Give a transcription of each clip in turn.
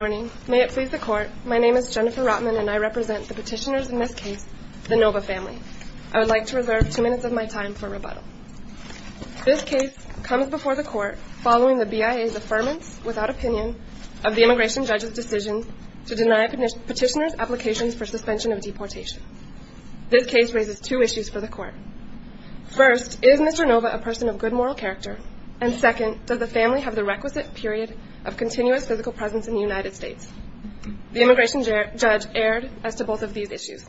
Good morning. May it please the court, my name is Jennifer Rotman and I represent the petitioners in this case, the Nova family. I would like to reserve two minutes of my time for rebuttal. This case comes before the court following the BIA's affirmance, without opinion, of the immigration judge's decision to deny petitioners' applications for suspension of deportation. This case raises two issues for the court. First, is Mr. Nova a person of good moral character? And second, does the family have the requisite period of continuous physical presence in the United States? The immigration judge erred as to both of these issues.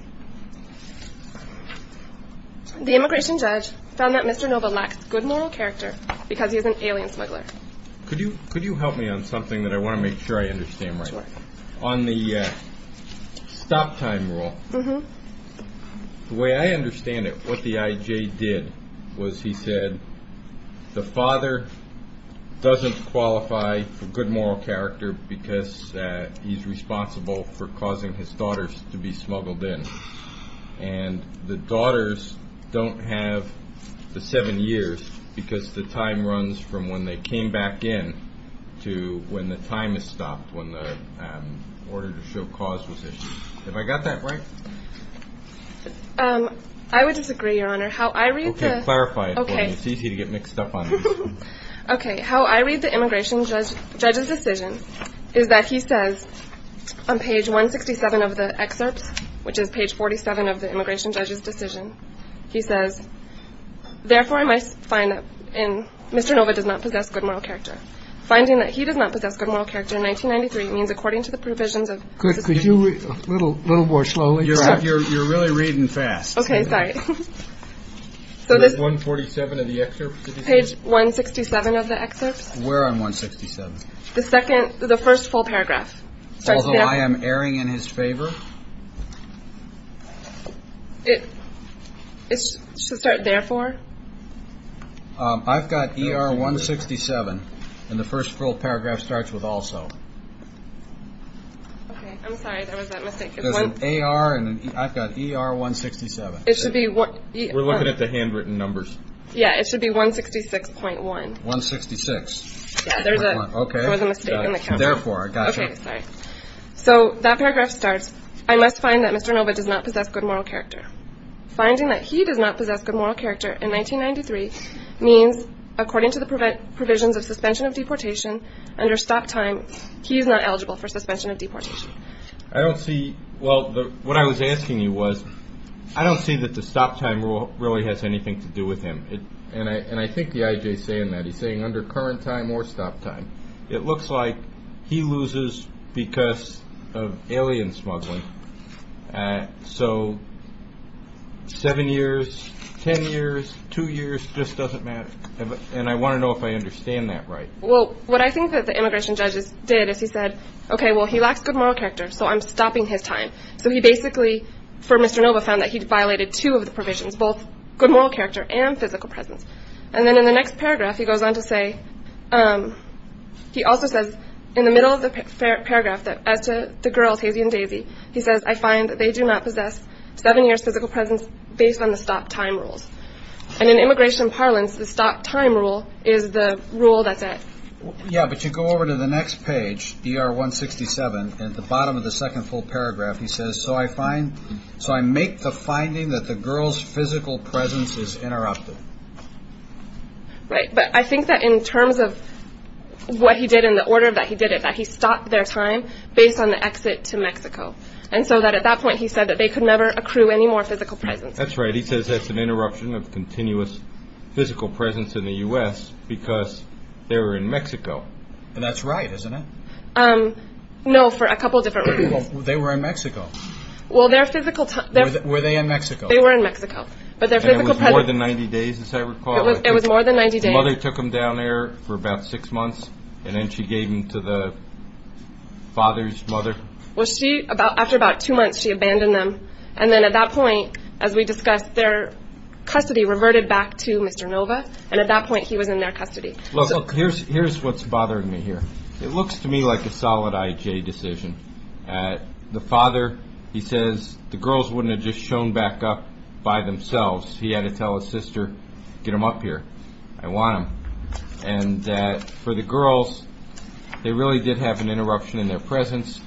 The immigration judge found that Mr. Nova lacks good moral character because he is an alien smuggler. Could you help me on something that I want to make sure I understand right? Sure. On the stop time rule, the way I understand it, what the IJ did was he said, the father doesn't qualify for good moral character because he's responsible for causing his daughters to be smuggled in. And the daughters don't have the seven years because the time runs from when they came back in to when the time is stopped, when the order to show cause was issued. Have I got that right? I would disagree, Your Honor. Okay, clarify it for me. It's easy to get mixed up on these. Okay. How I read the immigration judge's decision is that he says on page 167 of the excerpts, which is page 47 of the immigration judge's decision, he says, Therefore, I find that Mr. Nova does not possess good moral character. Finding that he does not possess good moral character in 1993 means according to the provisions of. Could you read a little more slowly? You're really reading fast. Okay, sorry. Page 147 of the excerpts? Page 167 of the excerpts. Where on 167? The second, the first full paragraph. Although I am erring in his favor? It should start, therefore. I've got ER 167, and the first full paragraph starts with also. Okay, I'm sorry, there was that mistake. There's an AR, and I've got ER 167. It should be. We're looking at the handwritten numbers. Yeah, it should be 166.1. 166. Yeah, there's a mistake in the count. Okay, therefore, I gotcha. Okay, sorry. So that paragraph starts, I must find that Mr. Nova does not possess good moral character. Finding that he does not possess good moral character in 1993 means according to the provisions of suspension of deportation, under stop time, he is not eligible for suspension of deportation. I don't see, well, what I was asking you was, I don't see that the stop time rule really has anything to do with him. And I think the IJ is saying that. He's saying under current time or stop time. It looks like he loses because of alien smuggling. So seven years, ten years, two years, just doesn't matter. And I want to know if I understand that right. Well, what I think that the immigration judges did is he said, okay, well, he lacks good moral character, so I'm stopping his time. So he basically, for Mr. Nova, found that he violated two of the provisions, both good moral character and physical presence. And then in the next paragraph, he goes on to say, he also says in the middle of the paragraph, that as to the girls, Hazy and Daisy, he says, I find that they do not possess seven years physical presence based on the stop time rules. And in immigration parlance, the stop time rule is the rule that's at. Yeah, but you go over to the next page, ER 167, and at the bottom of the second full paragraph, he says, So I make the finding that the girl's physical presence is interrupted. Right. But I think that in terms of what he did in the order that he did it, that he stopped their time based on the exit to Mexico. And so that at that point, he said that they could never accrue any more physical presence. That's right. He says that's an interruption of continuous physical presence in the U.S. because they were in Mexico. And that's right, isn't it? No, for a couple of different reasons. Well, they were in Mexico. Well, their physical time. Were they in Mexico? They were in Mexico. But their physical presence. And it was more than 90 days, as I recall. It was more than 90 days. The mother took them down there for about six months, and then she gave them to the father's mother. Well, she, after about two months, she abandoned them. And then at that point, as we discussed, their custody reverted back to Mr. Nova. And at that point, he was in their custody. Look, here's what's bothering me here. It looks to me like a solid I.J. decision. The father, he says, the girls wouldn't have just shown back up by themselves. He had to tell his sister, get them up here. I want them. And for the girls, they really did have an interruption in their presence,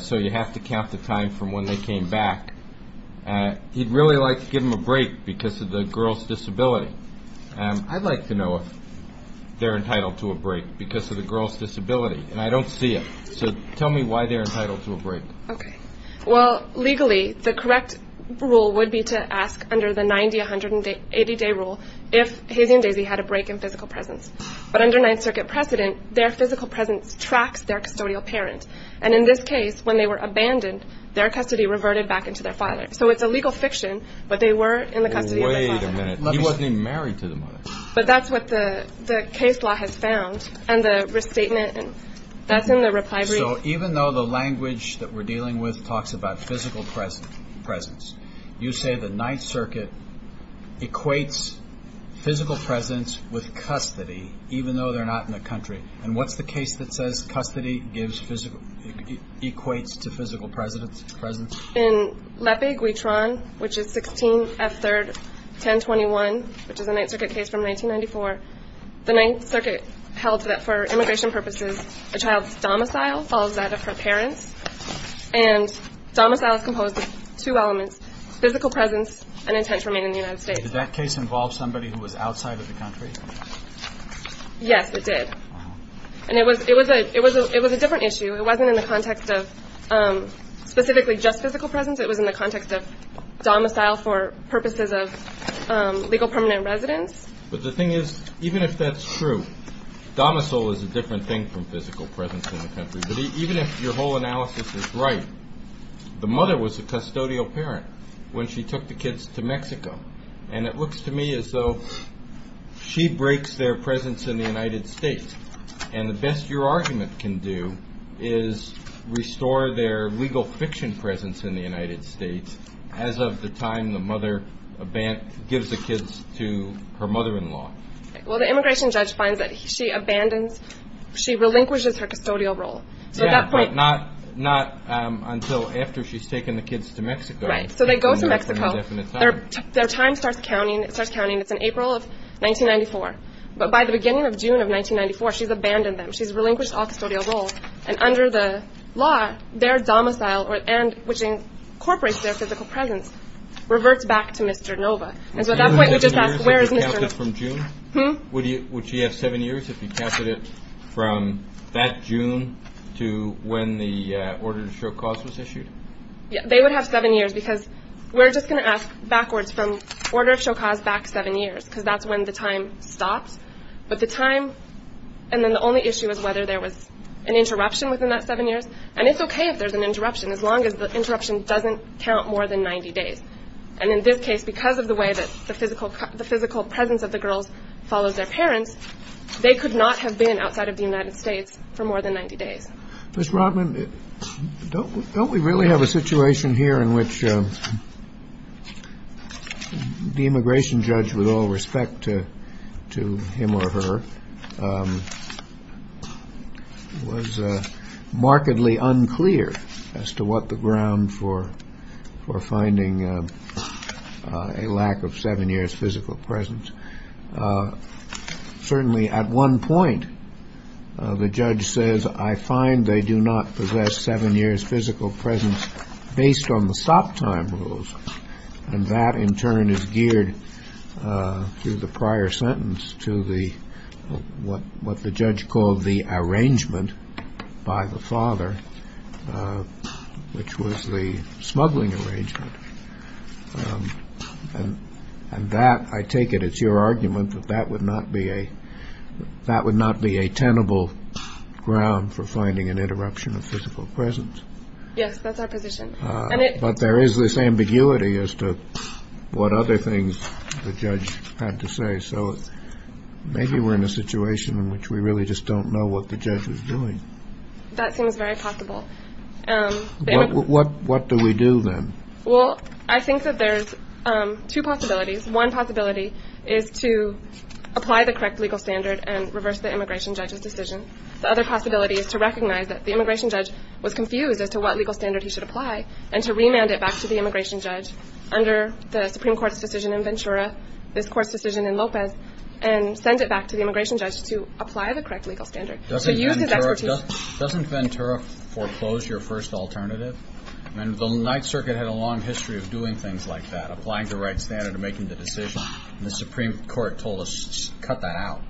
so you have to count the time from when they came back. He'd really like to give them a break because of the girls' disability. I'd like to know if they're entitled to a break because of the girls' disability, and I don't see it. So tell me why they're entitled to a break. Okay. Well, legally, the correct rule would be to ask under the 90-180-day rule if Hazy and Daisy had a break in physical presence. But under Ninth Circuit precedent, their physical presence tracks their custodial parent. And in this case, when they were abandoned, their custody reverted back into their father. So it's a legal fiction, but they were in the custody of their father. Wait a minute. He wasn't even married to the mother. But that's what the case law has found. And the restatement, that's in the reply brief. So even though the language that we're dealing with talks about physical presence, you say the Ninth Circuit equates physical presence with custody, even though they're not in the country. And what's the case that says custody equates to physical presence? In Leppe-Guitron, which is 16F3-1021, which is a Ninth Circuit case from 1994, the Ninth Circuit held that for immigration purposes, a child's domicile follows that of her parents. And domicile is composed of two elements, physical presence and intent to remain in the United States. Did that case involve somebody who was outside of the country? Yes, it did. And it was a different issue. It wasn't in the context of specifically just physical presence. It was in the context of domicile for purposes of legal permanent residence. But the thing is, even if that's true, domicile is a different thing from physical presence in the country. But even if your whole analysis is right, the mother was a custodial parent when she took the kids to Mexico. And it looks to me as though she breaks their presence in the United States. And the best your argument can do is restore their legal fiction presence in the United States as of the time the mother gives the kids to her mother-in-law. Well, the immigration judge finds that she abandons, she relinquishes her custodial role. Yeah, but not until after she's taken the kids to Mexico. Right, so they go to Mexico. Their time starts counting. It starts counting. It's in April of 1994. But by the beginning of June of 1994, she's abandoned them. She's relinquished all custodial roles. And under the law, their domicile, which incorporates their physical presence, reverts back to Mr. Nova. And so at that point, we just ask, where is Mr. Nova? Would she have seven years if you counted it from that June to when the order to show cause was issued? Yeah, they would have seven years because we're just going to ask backwards from order of show cause back seven years because that's when the time stops. But the time, and then the only issue is whether there was an interruption within that seven years. And it's okay if there's an interruption as long as the interruption doesn't count more than 90 days. And in this case, because of the way that the physical presence of the girls follows their parents, they could not have been outside of the United States for more than 90 days. Mr. Rotman, don't we really have a situation here in which the immigration judge, with all respect to him or her, was markedly unclear as to what the ground for finding a lack of seven years physical presence. Certainly at one point, the judge says, I find they do not possess seven years physical presence based on the stop time rules. And that, in turn, is geared through the prior sentence to what the judge called the arrangement by the father, which was the smuggling arrangement. And that, I take it, it's your argument that that would not be a tenable ground for finding an interruption of physical presence. Yes, that's our position. But there is this ambiguity as to what other things the judge had to say. So maybe we're in a situation in which we really just don't know what the judge is doing. That seems very possible. What do we do then? Well, I think that there's two possibilities. One possibility is to apply the correct legal standard and reverse the immigration judge's decision. The other possibility is to recognize that the immigration judge was confused as to what legal standard he should apply and to remand it back to the immigration judge under the Supreme Court's decision in Ventura, this court's decision in Lopez, and send it back to the immigration judge to apply the correct legal standard. Doesn't Ventura foreclose your first alternative? And the Ninth Circuit had a long history of doing things like that, applying the right standard and making the decision. And the Supreme Court told us, cut that out.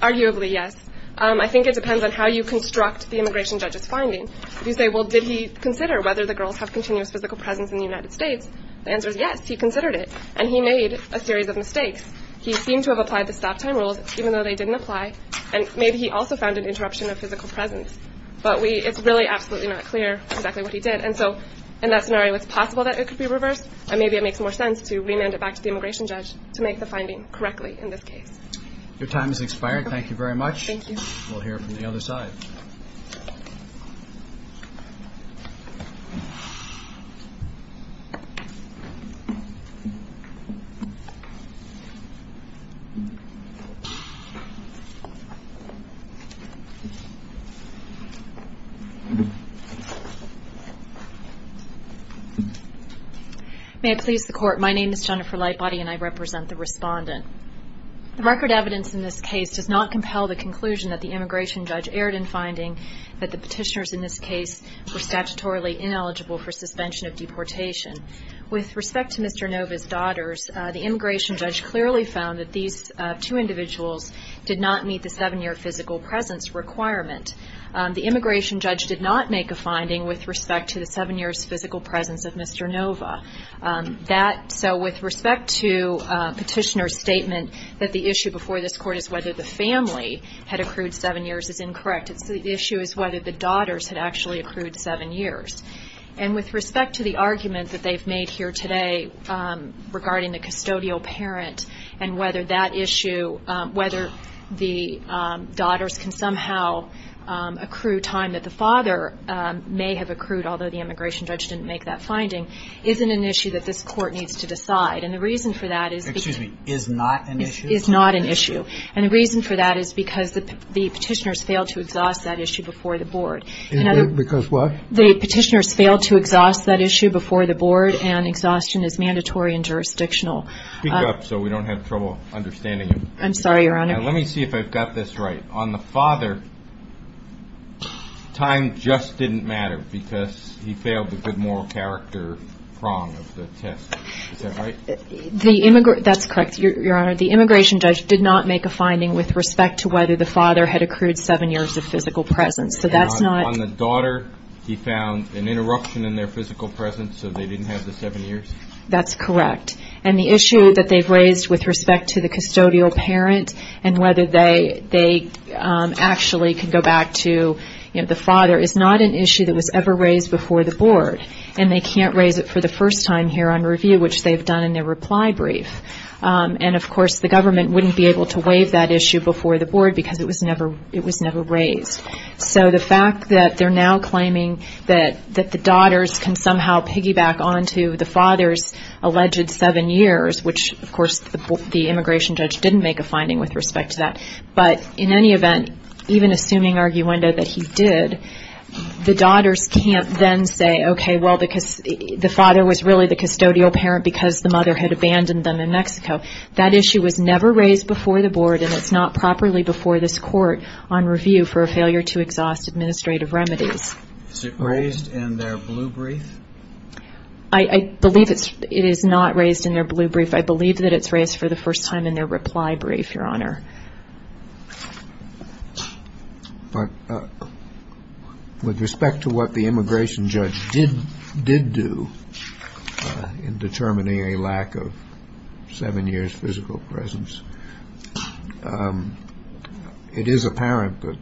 Arguably, yes. I think it depends on how you construct the immigration judge's finding. You say, well, did he consider whether the girls have continuous physical presence in the United States? The answer is yes, he considered it. And he made a series of mistakes. He seemed to have applied the stop-time rules, even though they didn't apply, and maybe he also found an interruption of physical presence. But it's really absolutely not clear exactly what he did. And so in that scenario, it's possible that it could be reversed, and maybe it makes more sense to remand it back to the immigration judge to make the finding correctly in this case. Your time has expired. Thank you very much. Thank you. We'll hear from the other side. May I please the Court? My name is Jennifer Lightbody, and I represent the respondent. The record evidence in this case does not compel the conclusion that the immigration judge erred in finding that the petitioners in this case were statutorily ineligible for suspension of deportation. With respect to Mr. Nova's daughters, the immigration judge clearly found that these two individuals did not meet the seven-year physical presence requirement. The immigration judge did not make a finding with respect to the seven years physical presence of Mr. Nova. So with respect to Petitioner's statement that the issue before this Court is whether the family had accrued seven years is incorrect. The issue is whether the daughters had actually accrued seven years. And with respect to the argument that they've made here today regarding the custodial parent and whether that issue, whether the daughters can somehow accrue time that the father may have accrued, although the immigration judge didn't make that finding, isn't an issue that this Court needs to decide. And the reason for that is because the petitioners failed to exhaust that issue before the Board. Because what? The petitioners failed to exhaust that issue before the Board, and exhaustion is mandatory and jurisdictional. Speak up so we don't have trouble understanding you. I'm sorry, Your Honor. Let me see if I've got this right. On the father, time just didn't matter because he failed the good moral character prong of the test. Is that right? That's correct, Your Honor. The immigration judge did not make a finding with respect to whether the father had accrued seven years of physical presence. On the daughter, he found an interruption in their physical presence, so they didn't have the seven years? That's correct. And the issue that they've raised with respect to the custodial parent and whether they actually can go back to the father is not an issue that was ever raised before the Board, and they can't raise it for the first time here on review, which they've done in their reply brief. And, of course, the government wouldn't be able to waive that issue before the Board because it was never raised. So the fact that they're now claiming that the daughters can somehow piggyback onto the father's alleged seven years, which, of course, the immigration judge didn't make a finding with respect to that, but in any event, even assuming arguendo that he did, the daughters can't then say, okay, well, the father was really the custodial parent because the mother had abandoned them in Mexico. That issue was never raised before the Board, and it's not properly before this court on review for a failure to exhaust administrative remedies. Is it raised in their blue brief? I believe it is not raised in their blue brief. I believe that it's raised for the first time in their reply brief, Your Honor. But with respect to what the immigration judge did do in determining a lack of seven years' physical presence, it is apparent that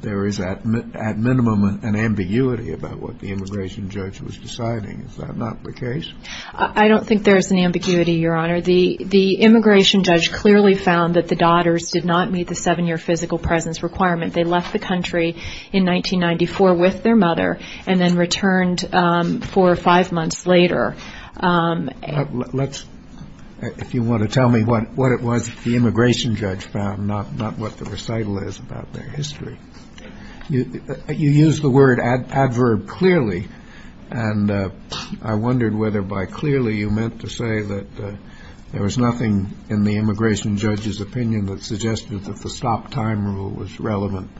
there is at minimum an ambiguity about what the immigration judge was deciding. Is that not the case? I don't think there's an ambiguity, Your Honor. The immigration judge clearly found that the daughters did not meet the seven-year physical presence requirement. They left the country in 1994 with their mother and then returned four or five months later. If you want to tell me what it was that the immigration judge found, not what the recital is about their history. You used the word adverb clearly, and I wondered whether by clearly you meant to say that there was nothing in the immigration judge's opinion that suggested that the stop time rule was relevant.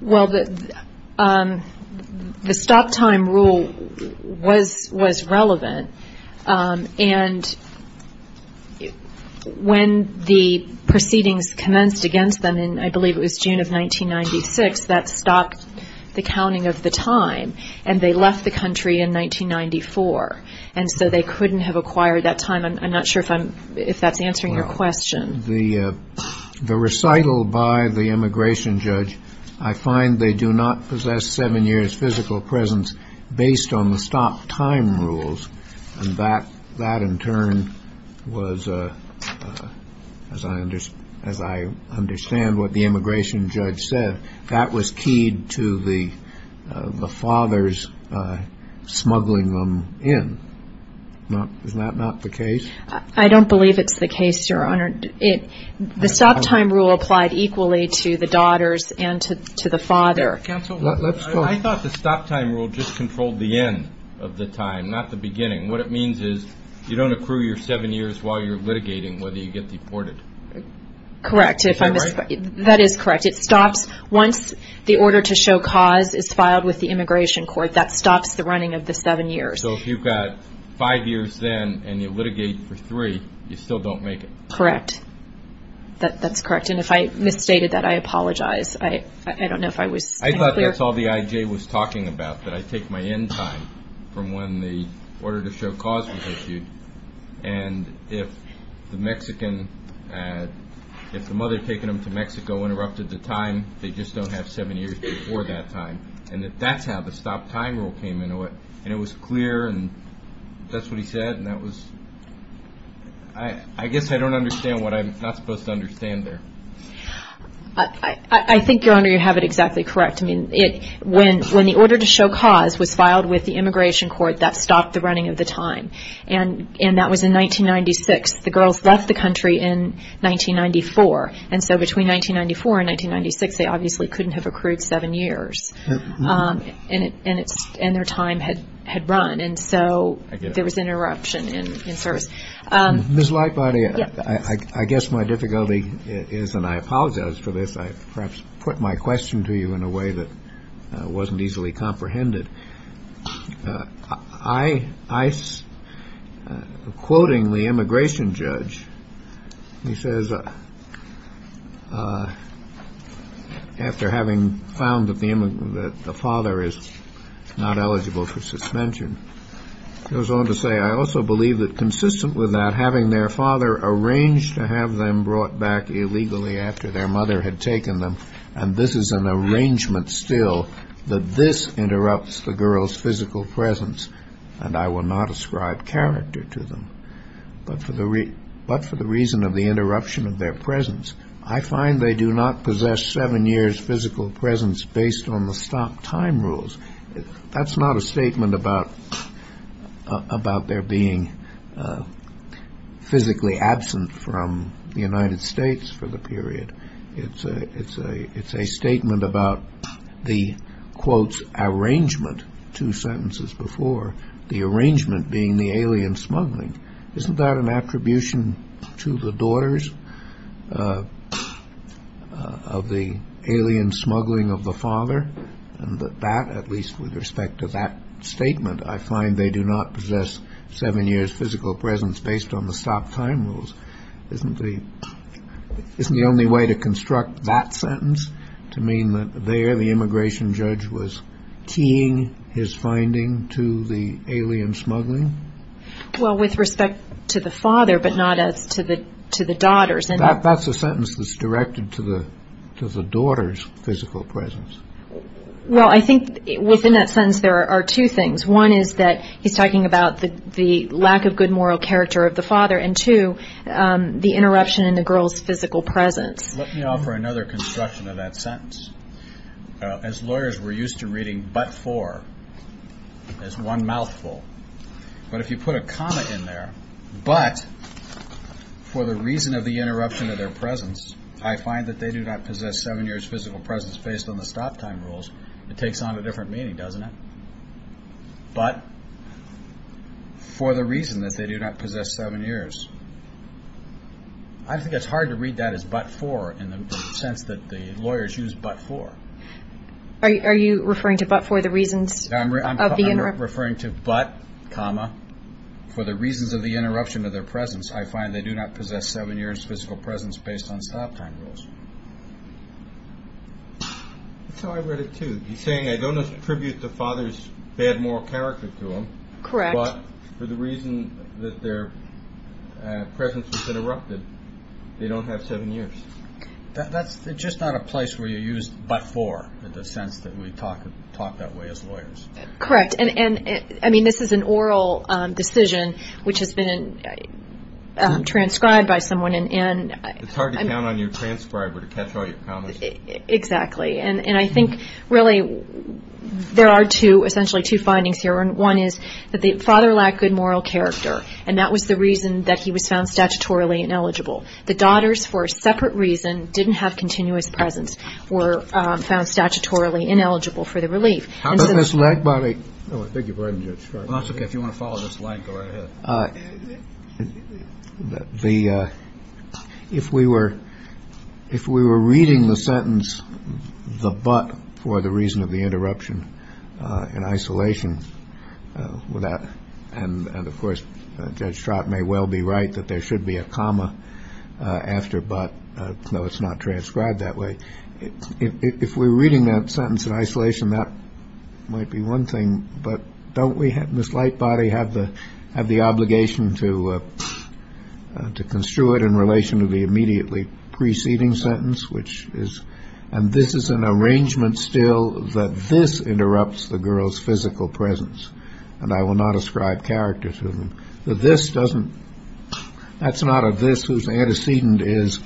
Well, the stop time rule was relevant, and when the proceedings commenced against them in, I believe it was June of 1996, that stopped the counting of the time, and they left the country in 1994. And so they couldn't have acquired that time. I'm not sure if that's answering your question. The recital by the immigration judge, I find they do not possess seven years' physical presence based on the stop time rules, and that in turn was, as I understand what the immigration judge said, that that was keyed to the fathers smuggling them in. Isn't that not the case? I don't believe it's the case, Your Honor. The stop time rule applied equally to the daughters and to the father. Counsel, I thought the stop time rule just controlled the end of the time, not the beginning. What it means is you don't accrue your seven years while you're litigating whether you get deported. Correct. Am I right? That is correct. It stops once the order to show cause is filed with the immigration court. That stops the running of the seven years. So if you've got five years then and you litigate for three, you still don't make it. Correct. That's correct. And if I misstated that, I apologize. I don't know if I was being clear. I thought that's all the IJ was talking about, that I take my end time from when the order to show cause was issued, and if the Mexican, if the mother taking them to Mexico interrupted the time, they just don't have seven years before that time. And that's how the stop time rule came into it. And it was clear, and that's what he said, and that was, I guess I don't understand what I'm not supposed to understand there. I think, Your Honor, you have it exactly correct. I mean, when the order to show cause was filed with the immigration court, that stopped the running of the time. And that was in 1996. The girls left the country in 1994. And so between 1994 and 1996, they obviously couldn't have accrued seven years. And their time had run. And so there was an interruption in service. Ms. Lightbody, I guess my difficulty is, and I apologize for this, I perhaps put my question to you in a way that wasn't easily comprehended. I, quoting the immigration judge, he says, after having found that the father is not eligible for suspension, goes on to say, I also believe that consistent with that, having their father arranged to have them brought back illegally after their mother had taken them, and this is an arrangement still that this interrupts the girls' physical presence, and I will not ascribe character to them. But for the reason of the interruption of their presence, I find they do not possess seven years' physical presence based on the stopped time rules. That's not a statement about their being physically absent from the United States for the period. It's a statement about the, quotes, arrangement, two sentences before, the arrangement being the alien smuggling. Isn't that an attribution to the daughters of the alien smuggling of the father? And that, at least with respect to that statement, I find they do not possess seven years' physical presence based on the stopped time rules. Isn't the only way to construct that sentence, to mean that there the immigration judge was keying his finding to the alien smuggling? Well, with respect to the father, but not as to the daughters. That's a sentence that's directed to the daughters' physical presence. Well, I think within that sentence there are two things. One is that he's talking about the lack of good moral character of the father, and two, the interruption in the girls' physical presence. Let me offer another construction of that sentence. As lawyers, we're used to reading but for as one mouthful. But if you put a comma in there, but for the reason of the interruption of their presence, I find that they do not possess seven years' physical presence based on the stopped time rules. It takes on a different meaning, doesn't it? But for the reason that they do not possess seven years. I think it's hard to read that as but for in the sense that the lawyers use but for. Are you referring to but for the reasons of the interruption? I'm referring to but, comma, for the reasons of the interruption of their presence, I find they do not possess seven years' physical presence based on stopped time rules. That's how I read it, too. He's saying I don't attribute the father's bad moral character to him. Correct. But for the reason that their presence was interrupted, they don't have seven years. That's just not a place where you use but for in the sense that we talk that way as lawyers. Correct. I mean, this is an oral decision which has been transcribed by someone. It's hard to count on your transcriber to catch all your comments. Exactly. And I think, really, there are essentially two findings here. One is that the father lacked good moral character, and that was the reason that he was found statutorily ineligible. The daughters, for a separate reason, didn't have continuous presence, were found statutorily ineligible for the relief. Thank you for writing, Judge Stratton. That's okay. If you want to follow this line, go right ahead. If we were reading the sentence, the but, for the reason of the interruption in isolation, and, of course, Judge Stratton may well be right that there should be a comma after but, though it's not transcribed that way. If we're reading that sentence in isolation, that might be one thing, but don't we in this light body have the obligation to construe it in relation to the immediately preceding sentence, which is, and this is an arrangement still that this interrupts the girls' physical presence, and I will not ascribe character to them, that this doesn't, that's not a this whose antecedent is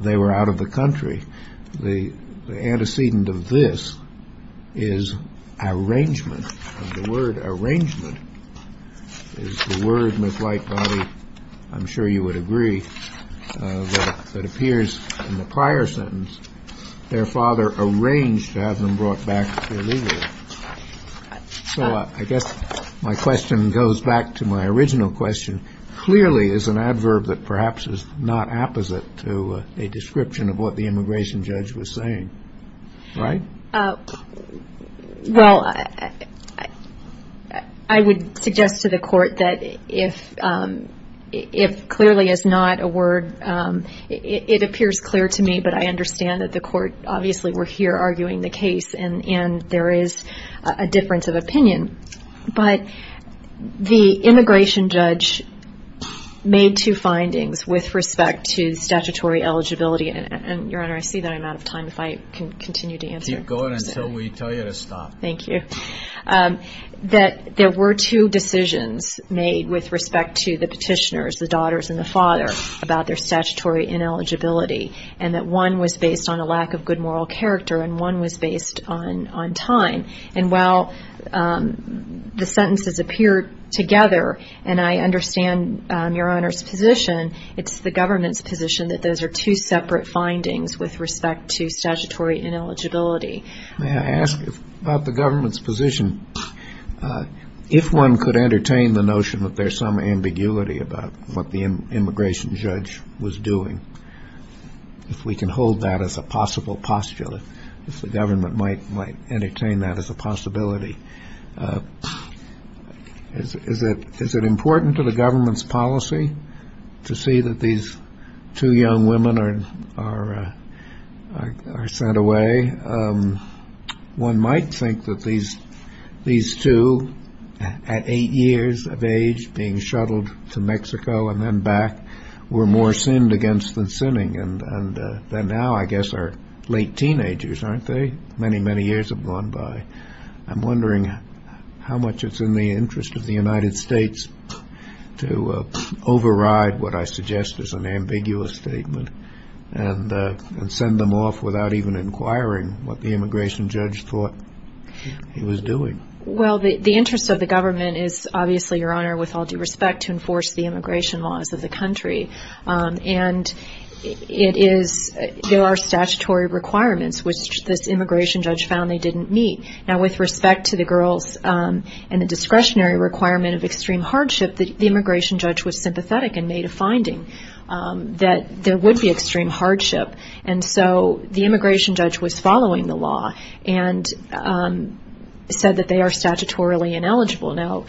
they were out of the country. The antecedent of this is arrangement. The word arrangement is the word, Ms. Lightbody, I'm sure you would agree, that appears in the prior sentence, their father arranged to have them brought back illegally. So I guess my question goes back to my original question. Clearly is an adverb that perhaps is not apposite to a description of what the immigration judge was saying, right? Well, I would suggest to the court that if clearly is not a word, it appears clear to me, but I understand that the court obviously were here arguing the case, and there is a difference of opinion, but the immigration judge made two findings with respect to statutory eligibility, and, Your Honor, I see that I'm out of time if I continue to answer. Keep going until we tell you to stop. Thank you. That there were two decisions made with respect to the petitioners, the daughters and the father about their statutory ineligibility, and that one was based on a lack of good moral character and one was based on time. And while the sentences appear together, and I understand Your Honor's position, it's the government's position that those are two separate findings with respect to statutory ineligibility. May I ask about the government's position? If one could entertain the notion that there's some ambiguity about what the immigration judge was doing, if we can hold that as a possible postulate, if the government might entertain that as a possibility. Is it important to the government's policy to see that these two young women are sent away? One might think that these two, at eight years of age, being shuttled to Mexico and then back, were more sinned against than sinning than now, I guess, our late teenagers, aren't they? Many, many years have gone by. I'm wondering how much it's in the interest of the United States to override what I suggest is an ambiguous statement and send them off without even inquiring what the immigration judge thought he was doing. Well, the interest of the government is obviously, Your Honor, with all due respect to enforce the immigration laws of the country. And it is – there are statutory requirements which this immigration judge found they didn't meet. Now, with respect to the girls and the discretionary requirement of extreme hardship, the immigration judge was sympathetic and made a finding that there would be extreme hardship. And so the immigration judge was following the law and said that they are statutorily ineligible. Now,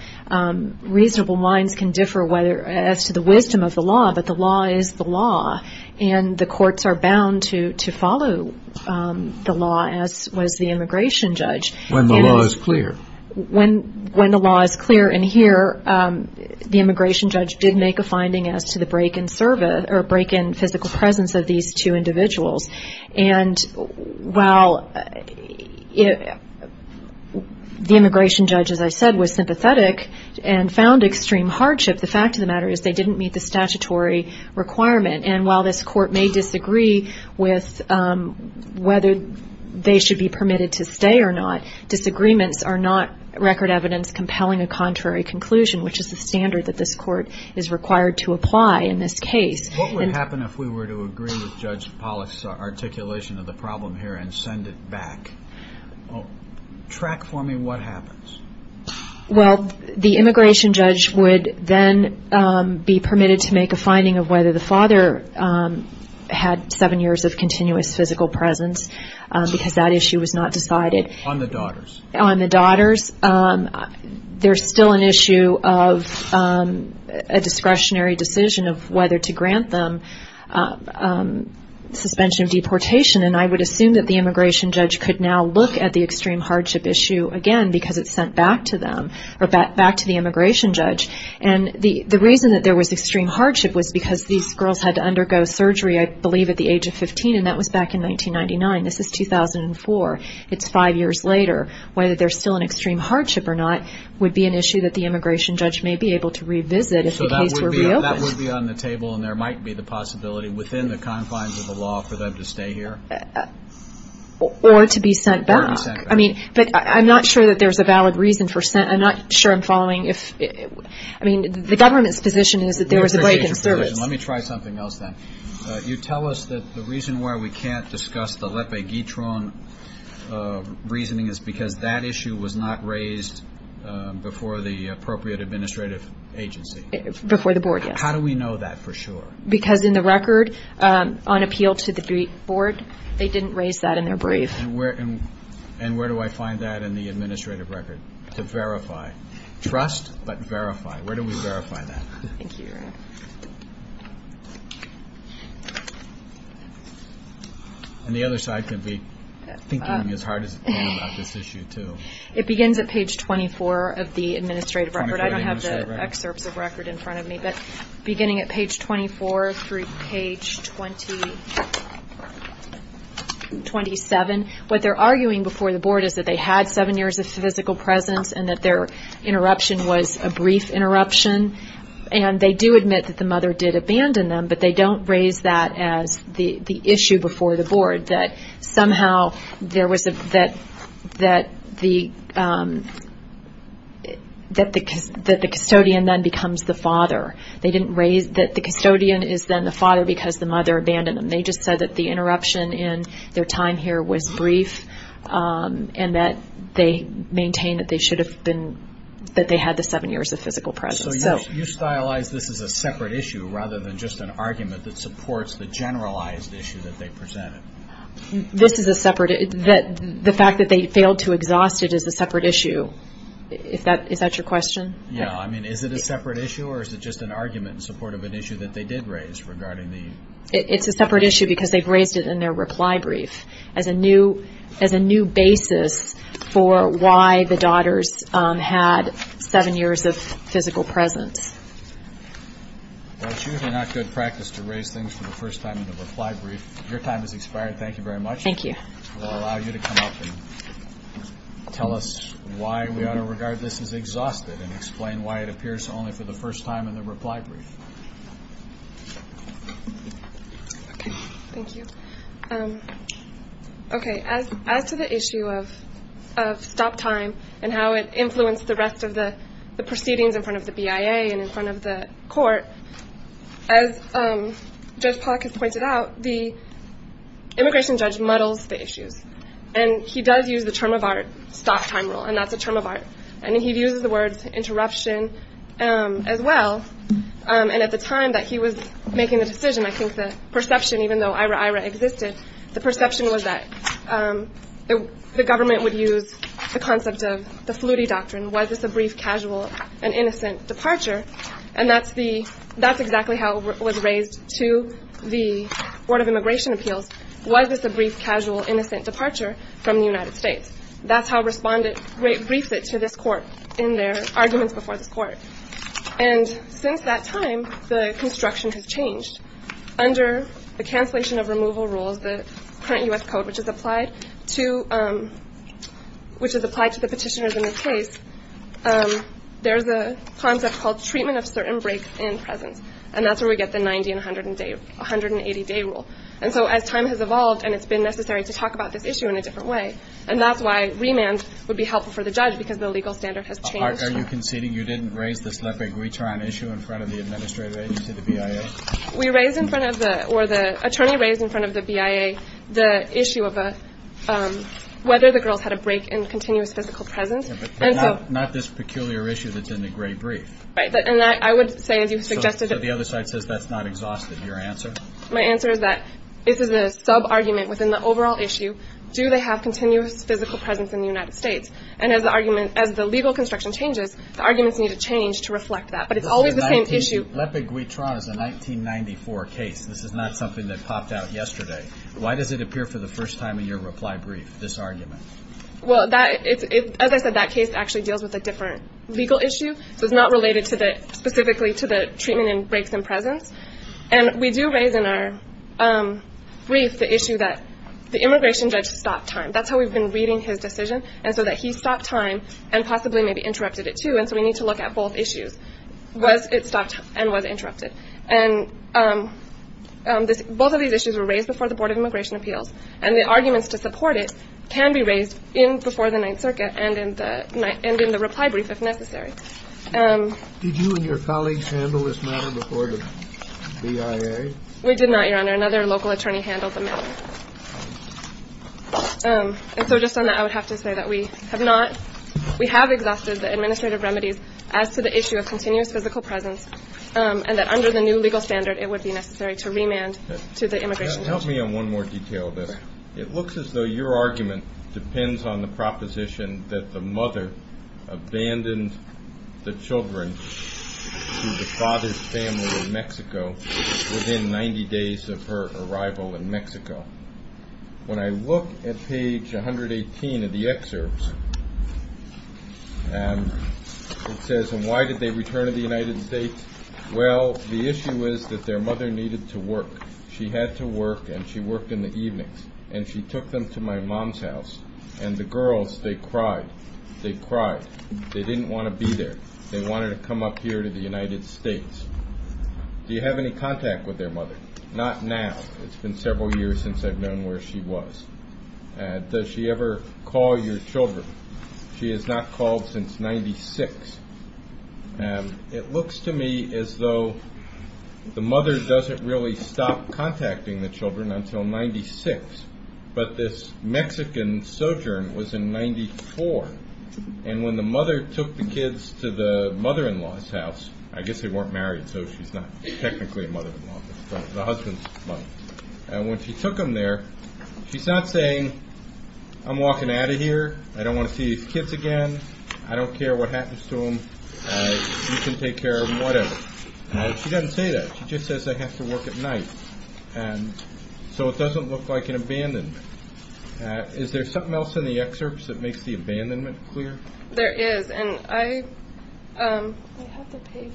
reasonable minds can differ as to the wisdom of the law, but the law is the law. And the courts are bound to follow the law, as was the immigration judge. When the law is clear. When the law is clear. And here, the immigration judge did make a finding as to the break in physical presence of these two individuals. And while the immigration judge, as I said, was sympathetic and found extreme hardship, the fact of the matter is they didn't meet the statutory requirement. And while this court may disagree with whether they should be permitted to stay or not, disagreements are not record evidence compelling a contrary conclusion, which is the standard that this court is required to apply in this case. What would happen if we were to agree with Judge Pollack's articulation of the problem here and send it back? Track for me what happens. Well, the immigration judge would then be permitted to make a finding of whether the father had seven years of continuous physical presence because that issue was not decided. On the daughters. On the daughters. There's still an issue of a discretionary decision of whether to grant them suspension of deportation. And I would assume that the immigration judge could now look at the extreme hardship issue again because it's sent back to them or back to the immigration judge. And the reason that there was extreme hardship was because these girls had to undergo surgery, I believe, at the age of 15, and that was back in 1999. This is 2004. It's five years later. Whether there's still an extreme hardship or not would be an issue that the immigration judge may be able to revisit if the case were reopened. So that would be on the table and there might be the possibility within the confines of the law for them to stay here? Or to be sent back. Or to be sent back. But I'm not sure that there's a valid reason for sent. I'm not sure I'm following. I mean, the government's position is that there was a break in service. Let me try something else then. You tell us that the reason why we can't discuss the Lepe-Guitron reasoning is because that issue was not raised before the appropriate administrative agency. Before the board, yes. How do we know that for sure? Because in the record, on appeal to the board, they didn't raise that in their brief. And where do I find that in the administrative record? To verify. Trust, but verify. Where do we verify that? Thank you. And the other side can be thinking as hard as they can about this issue too. It begins at page 24 of the administrative record. I don't have the excerpts of record in front of me. But beginning at page 24 through page 27. What they're arguing before the board is that they had seven years of physical presence and that their interruption was a brief interruption. And they do admit that the mother did abandon them, but they don't raise that as the issue before the board, that somehow there was a, that the custodian then becomes the father. They didn't raise that the custodian is then the father because the mother abandoned them. They just said that the interruption in their time here was brief and that they maintain that they should have been, that they had the seven years of physical presence. So you stylized this as a separate issue rather than just an argument that supports the generalized issue that they presented? This is a separate, the fact that they failed to exhaust it is a separate issue. Is that your question? Yeah, I mean, is it a separate issue or is it just an argument in support of an issue that they did raise regarding the? It's a separate issue because they've raised it in their reply brief. As a new basis for why the daughters had seven years of physical presence. Well, it's usually not good practice to raise things for the first time in a reply brief. Your time has expired. Thank you very much. Thank you. We'll allow you to come up and tell us why we ought to regard this as exhausted and explain why it appears only for the first time in the reply brief. Thank you. Okay. As to the issue of stop time and how it influenced the rest of the proceedings in front of the BIA and in front of the court, as Judge Pollack has pointed out, the immigration judge muddles the issues and he does use the term of art stop time rule and that's a term of art. And he uses the words interruption as well. And at the time that he was making the decision, I think the perception, even though IRA IRA existed, the perception was that the government would use the concept of the Flutie doctrine. Was this a brief, casual and innocent departure? And that's the that's exactly how it was raised to the Board of Immigration Appeals. Was this a brief, casual, innocent departure from the United States? That's how respondent briefed it to this court in their arguments before the court. And since that time, the construction has changed under the cancellation of removal rules, the current U.S. code, which is applied to which is applied to the petitioners in this case. There's a concept called treatment of certain breaks in presence. And that's where we get the 90 and 100 and 180 day rule. And so as time has evolved and it's been necessary to talk about this issue in a different way. And that's why remand would be helpful for the judge, because the legal standard has changed. Are you conceding you didn't raise this leprosy issue in front of the administrative agency, the BIA? We raised in front of the or the attorney raised in front of the BIA the issue of whether the girls had a break in continuous physical presence. Not this peculiar issue that's in the great brief. And I would say, as you suggested, that the other side says that's not exhausted. Your answer. My answer is that this is a sub argument within the overall issue. Do they have continuous physical presence in the United States? And as the argument, as the legal construction changes, the arguments need to change to reflect that. But it's always the same issue. Lepid Guitron is a 1994 case. This is not something that popped out yesterday. Why does it appear for the first time in your reply brief, this argument? Well, that is, as I said, that case actually deals with a different legal issue. So it's not related to the specifically to the treatment and breaks in presence. And we do raise in our brief the issue that the immigration judge stopped time. That's how we've been reading his decision. And so that he stopped time and possibly maybe interrupted it, too. And so we need to look at both issues. Was it stopped and was interrupted? And both of these issues were raised before the Board of Immigration Appeals. And the arguments to support it can be raised in before the Ninth Circuit and in the end in the reply brief, if necessary. Did you and your colleagues handle this matter before the BIA? We did not, Your Honor. Another local attorney handled the matter. And so just on that, I would have to say that we have not. We have exhausted the administrative remedies as to the issue of continuous physical presence and that under the new legal standard, it would be necessary to remand to the immigration judge. Help me on one more detail of this. It looks as though your argument depends on the proposition that the mother abandoned the children to the father's family in Mexico within 90 days of her arrival in Mexico. When I look at page 118 of the excerpts, it says, And why did they return to the United States? Well, the issue is that their mother needed to work. She had to work and she worked in the evenings. And she took them to my mom's house. And the girls, they cried. They cried. They didn't want to be there. They wanted to come up here to the United States. Do you have any contact with their mother? Not now. It's been several years since I've known where she was. Does she ever call your children? She has not called since 96. It looks to me as though the mother doesn't really stop contacting the children until 96. But this Mexican sojourn was in 94. And when the mother took the kids to the mother-in-law's house, I guess they weren't married, so she's not technically a mother-in-law, but the husband's mother. And when she took them there, she's not saying, I'm walking out of here. I don't want to see these kids again. I don't care what happens to them. You can take care of them, whatever. She doesn't say that. She just says they have to work at night. So it doesn't look like an abandonment. Is there something else in the excerpts that makes the abandonment clear? There is. And I have the page.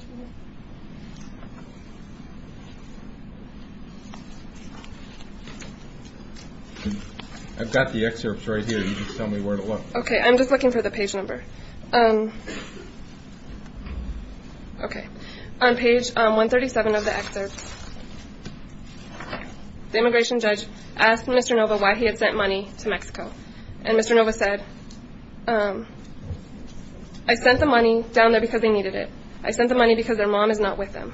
I've got the excerpts right here. You just tell me where to look. Okay. I'm just looking for the page number. Okay. On page 137 of the excerpts, the immigration judge asked Mr. Nova why he had sent money to Mexico. And Mr. Nova said, I sent the money down there because they needed it. I sent the money because their mom is not with them.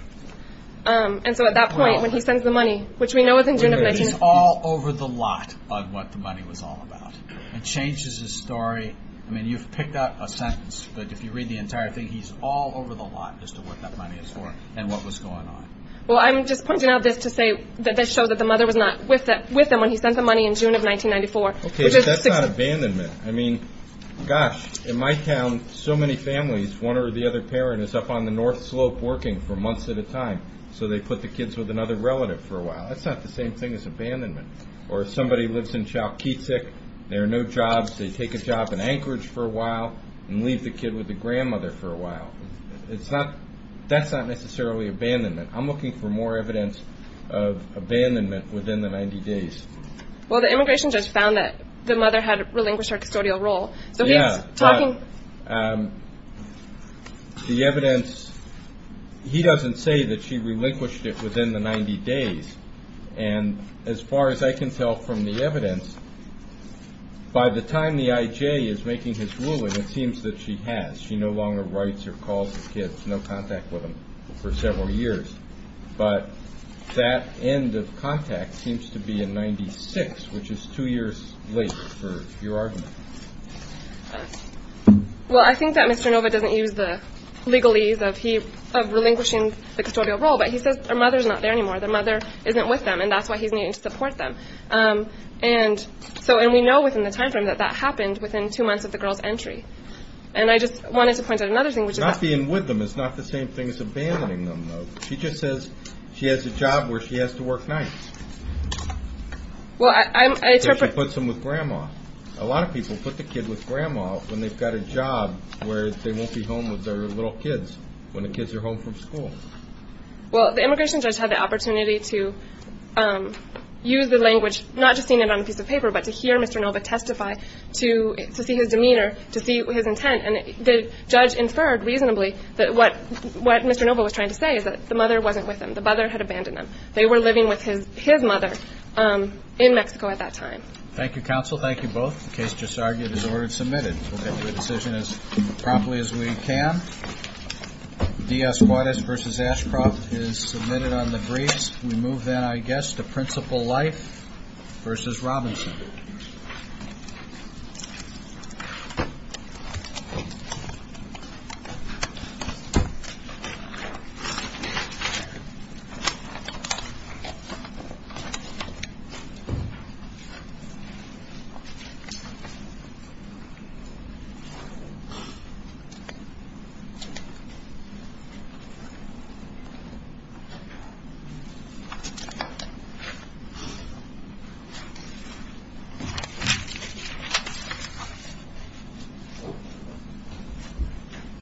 And so at that point, when he sends the money, which we know was in June of 19- Which is all over the lot of what the money was all about. It changes his story. I mean, you've picked out a sentence. But if you read the entire thing, he's all over the lot as to what that money is for and what was going on. Well, I'm just pointing out this to say that this shows that the mother was not with them when he sent the money in June of 1994. Okay, but that's not abandonment. I mean, gosh, in my town, so many families, one or the other parent is up on the North Slope working for months at a time. So they put the kids with another relative for a while. That's not the same thing as abandonment. Or if somebody lives in Chalkitsik, there are no jobs. They take a job in Anchorage for a while and leave the kid with the grandmother for a while. That's not necessarily abandonment. I'm looking for more evidence of abandonment within the 90 days. Well, the immigration judge found that the mother had relinquished her custodial role. Yeah, but the evidence, he doesn't say that she relinquished it within the 90 days. And as far as I can tell from the evidence, by the time the IJ is making his ruling, it seems that she has. She no longer writes or calls the kids, no contact with them for several years. But that end of contact seems to be in 96, which is two years late for your argument. Well, I think that Mr. Nova doesn't use the legalese of relinquishing the custodial role, but he says her mother is not there anymore. The mother isn't with them, and that's why he's needing to support them. And we know within the time frame that that happened within two months of the girl's entry. And I just wanted to point out another thing, which is that— Not being with them is not the same thing as abandoning them, though. She just says she has a job where she has to work nights. Well, I interpret— She puts them with grandma. A lot of people put the kid with grandma when they've got a job where they won't be home with their little kids, when the kids are home from school. Well, the immigration judge had the opportunity to use the language, not just seeing it on a piece of paper, but to hear Mr. Nova testify, to see his demeanor, to see his intent. And the judge inferred reasonably that what Mr. Nova was trying to say is that the mother wasn't with them. The mother had abandoned them. They were living with his mother in Mexico at that time. Thank you, counsel. Thank you both. The case just argued as ordered and submitted. We'll get to a decision as promptly as we can. Diaz-Guarez v. Ashcroft is submitted on the briefs. We move then, I guess, to Principal Leif v. Robinson. Thank you.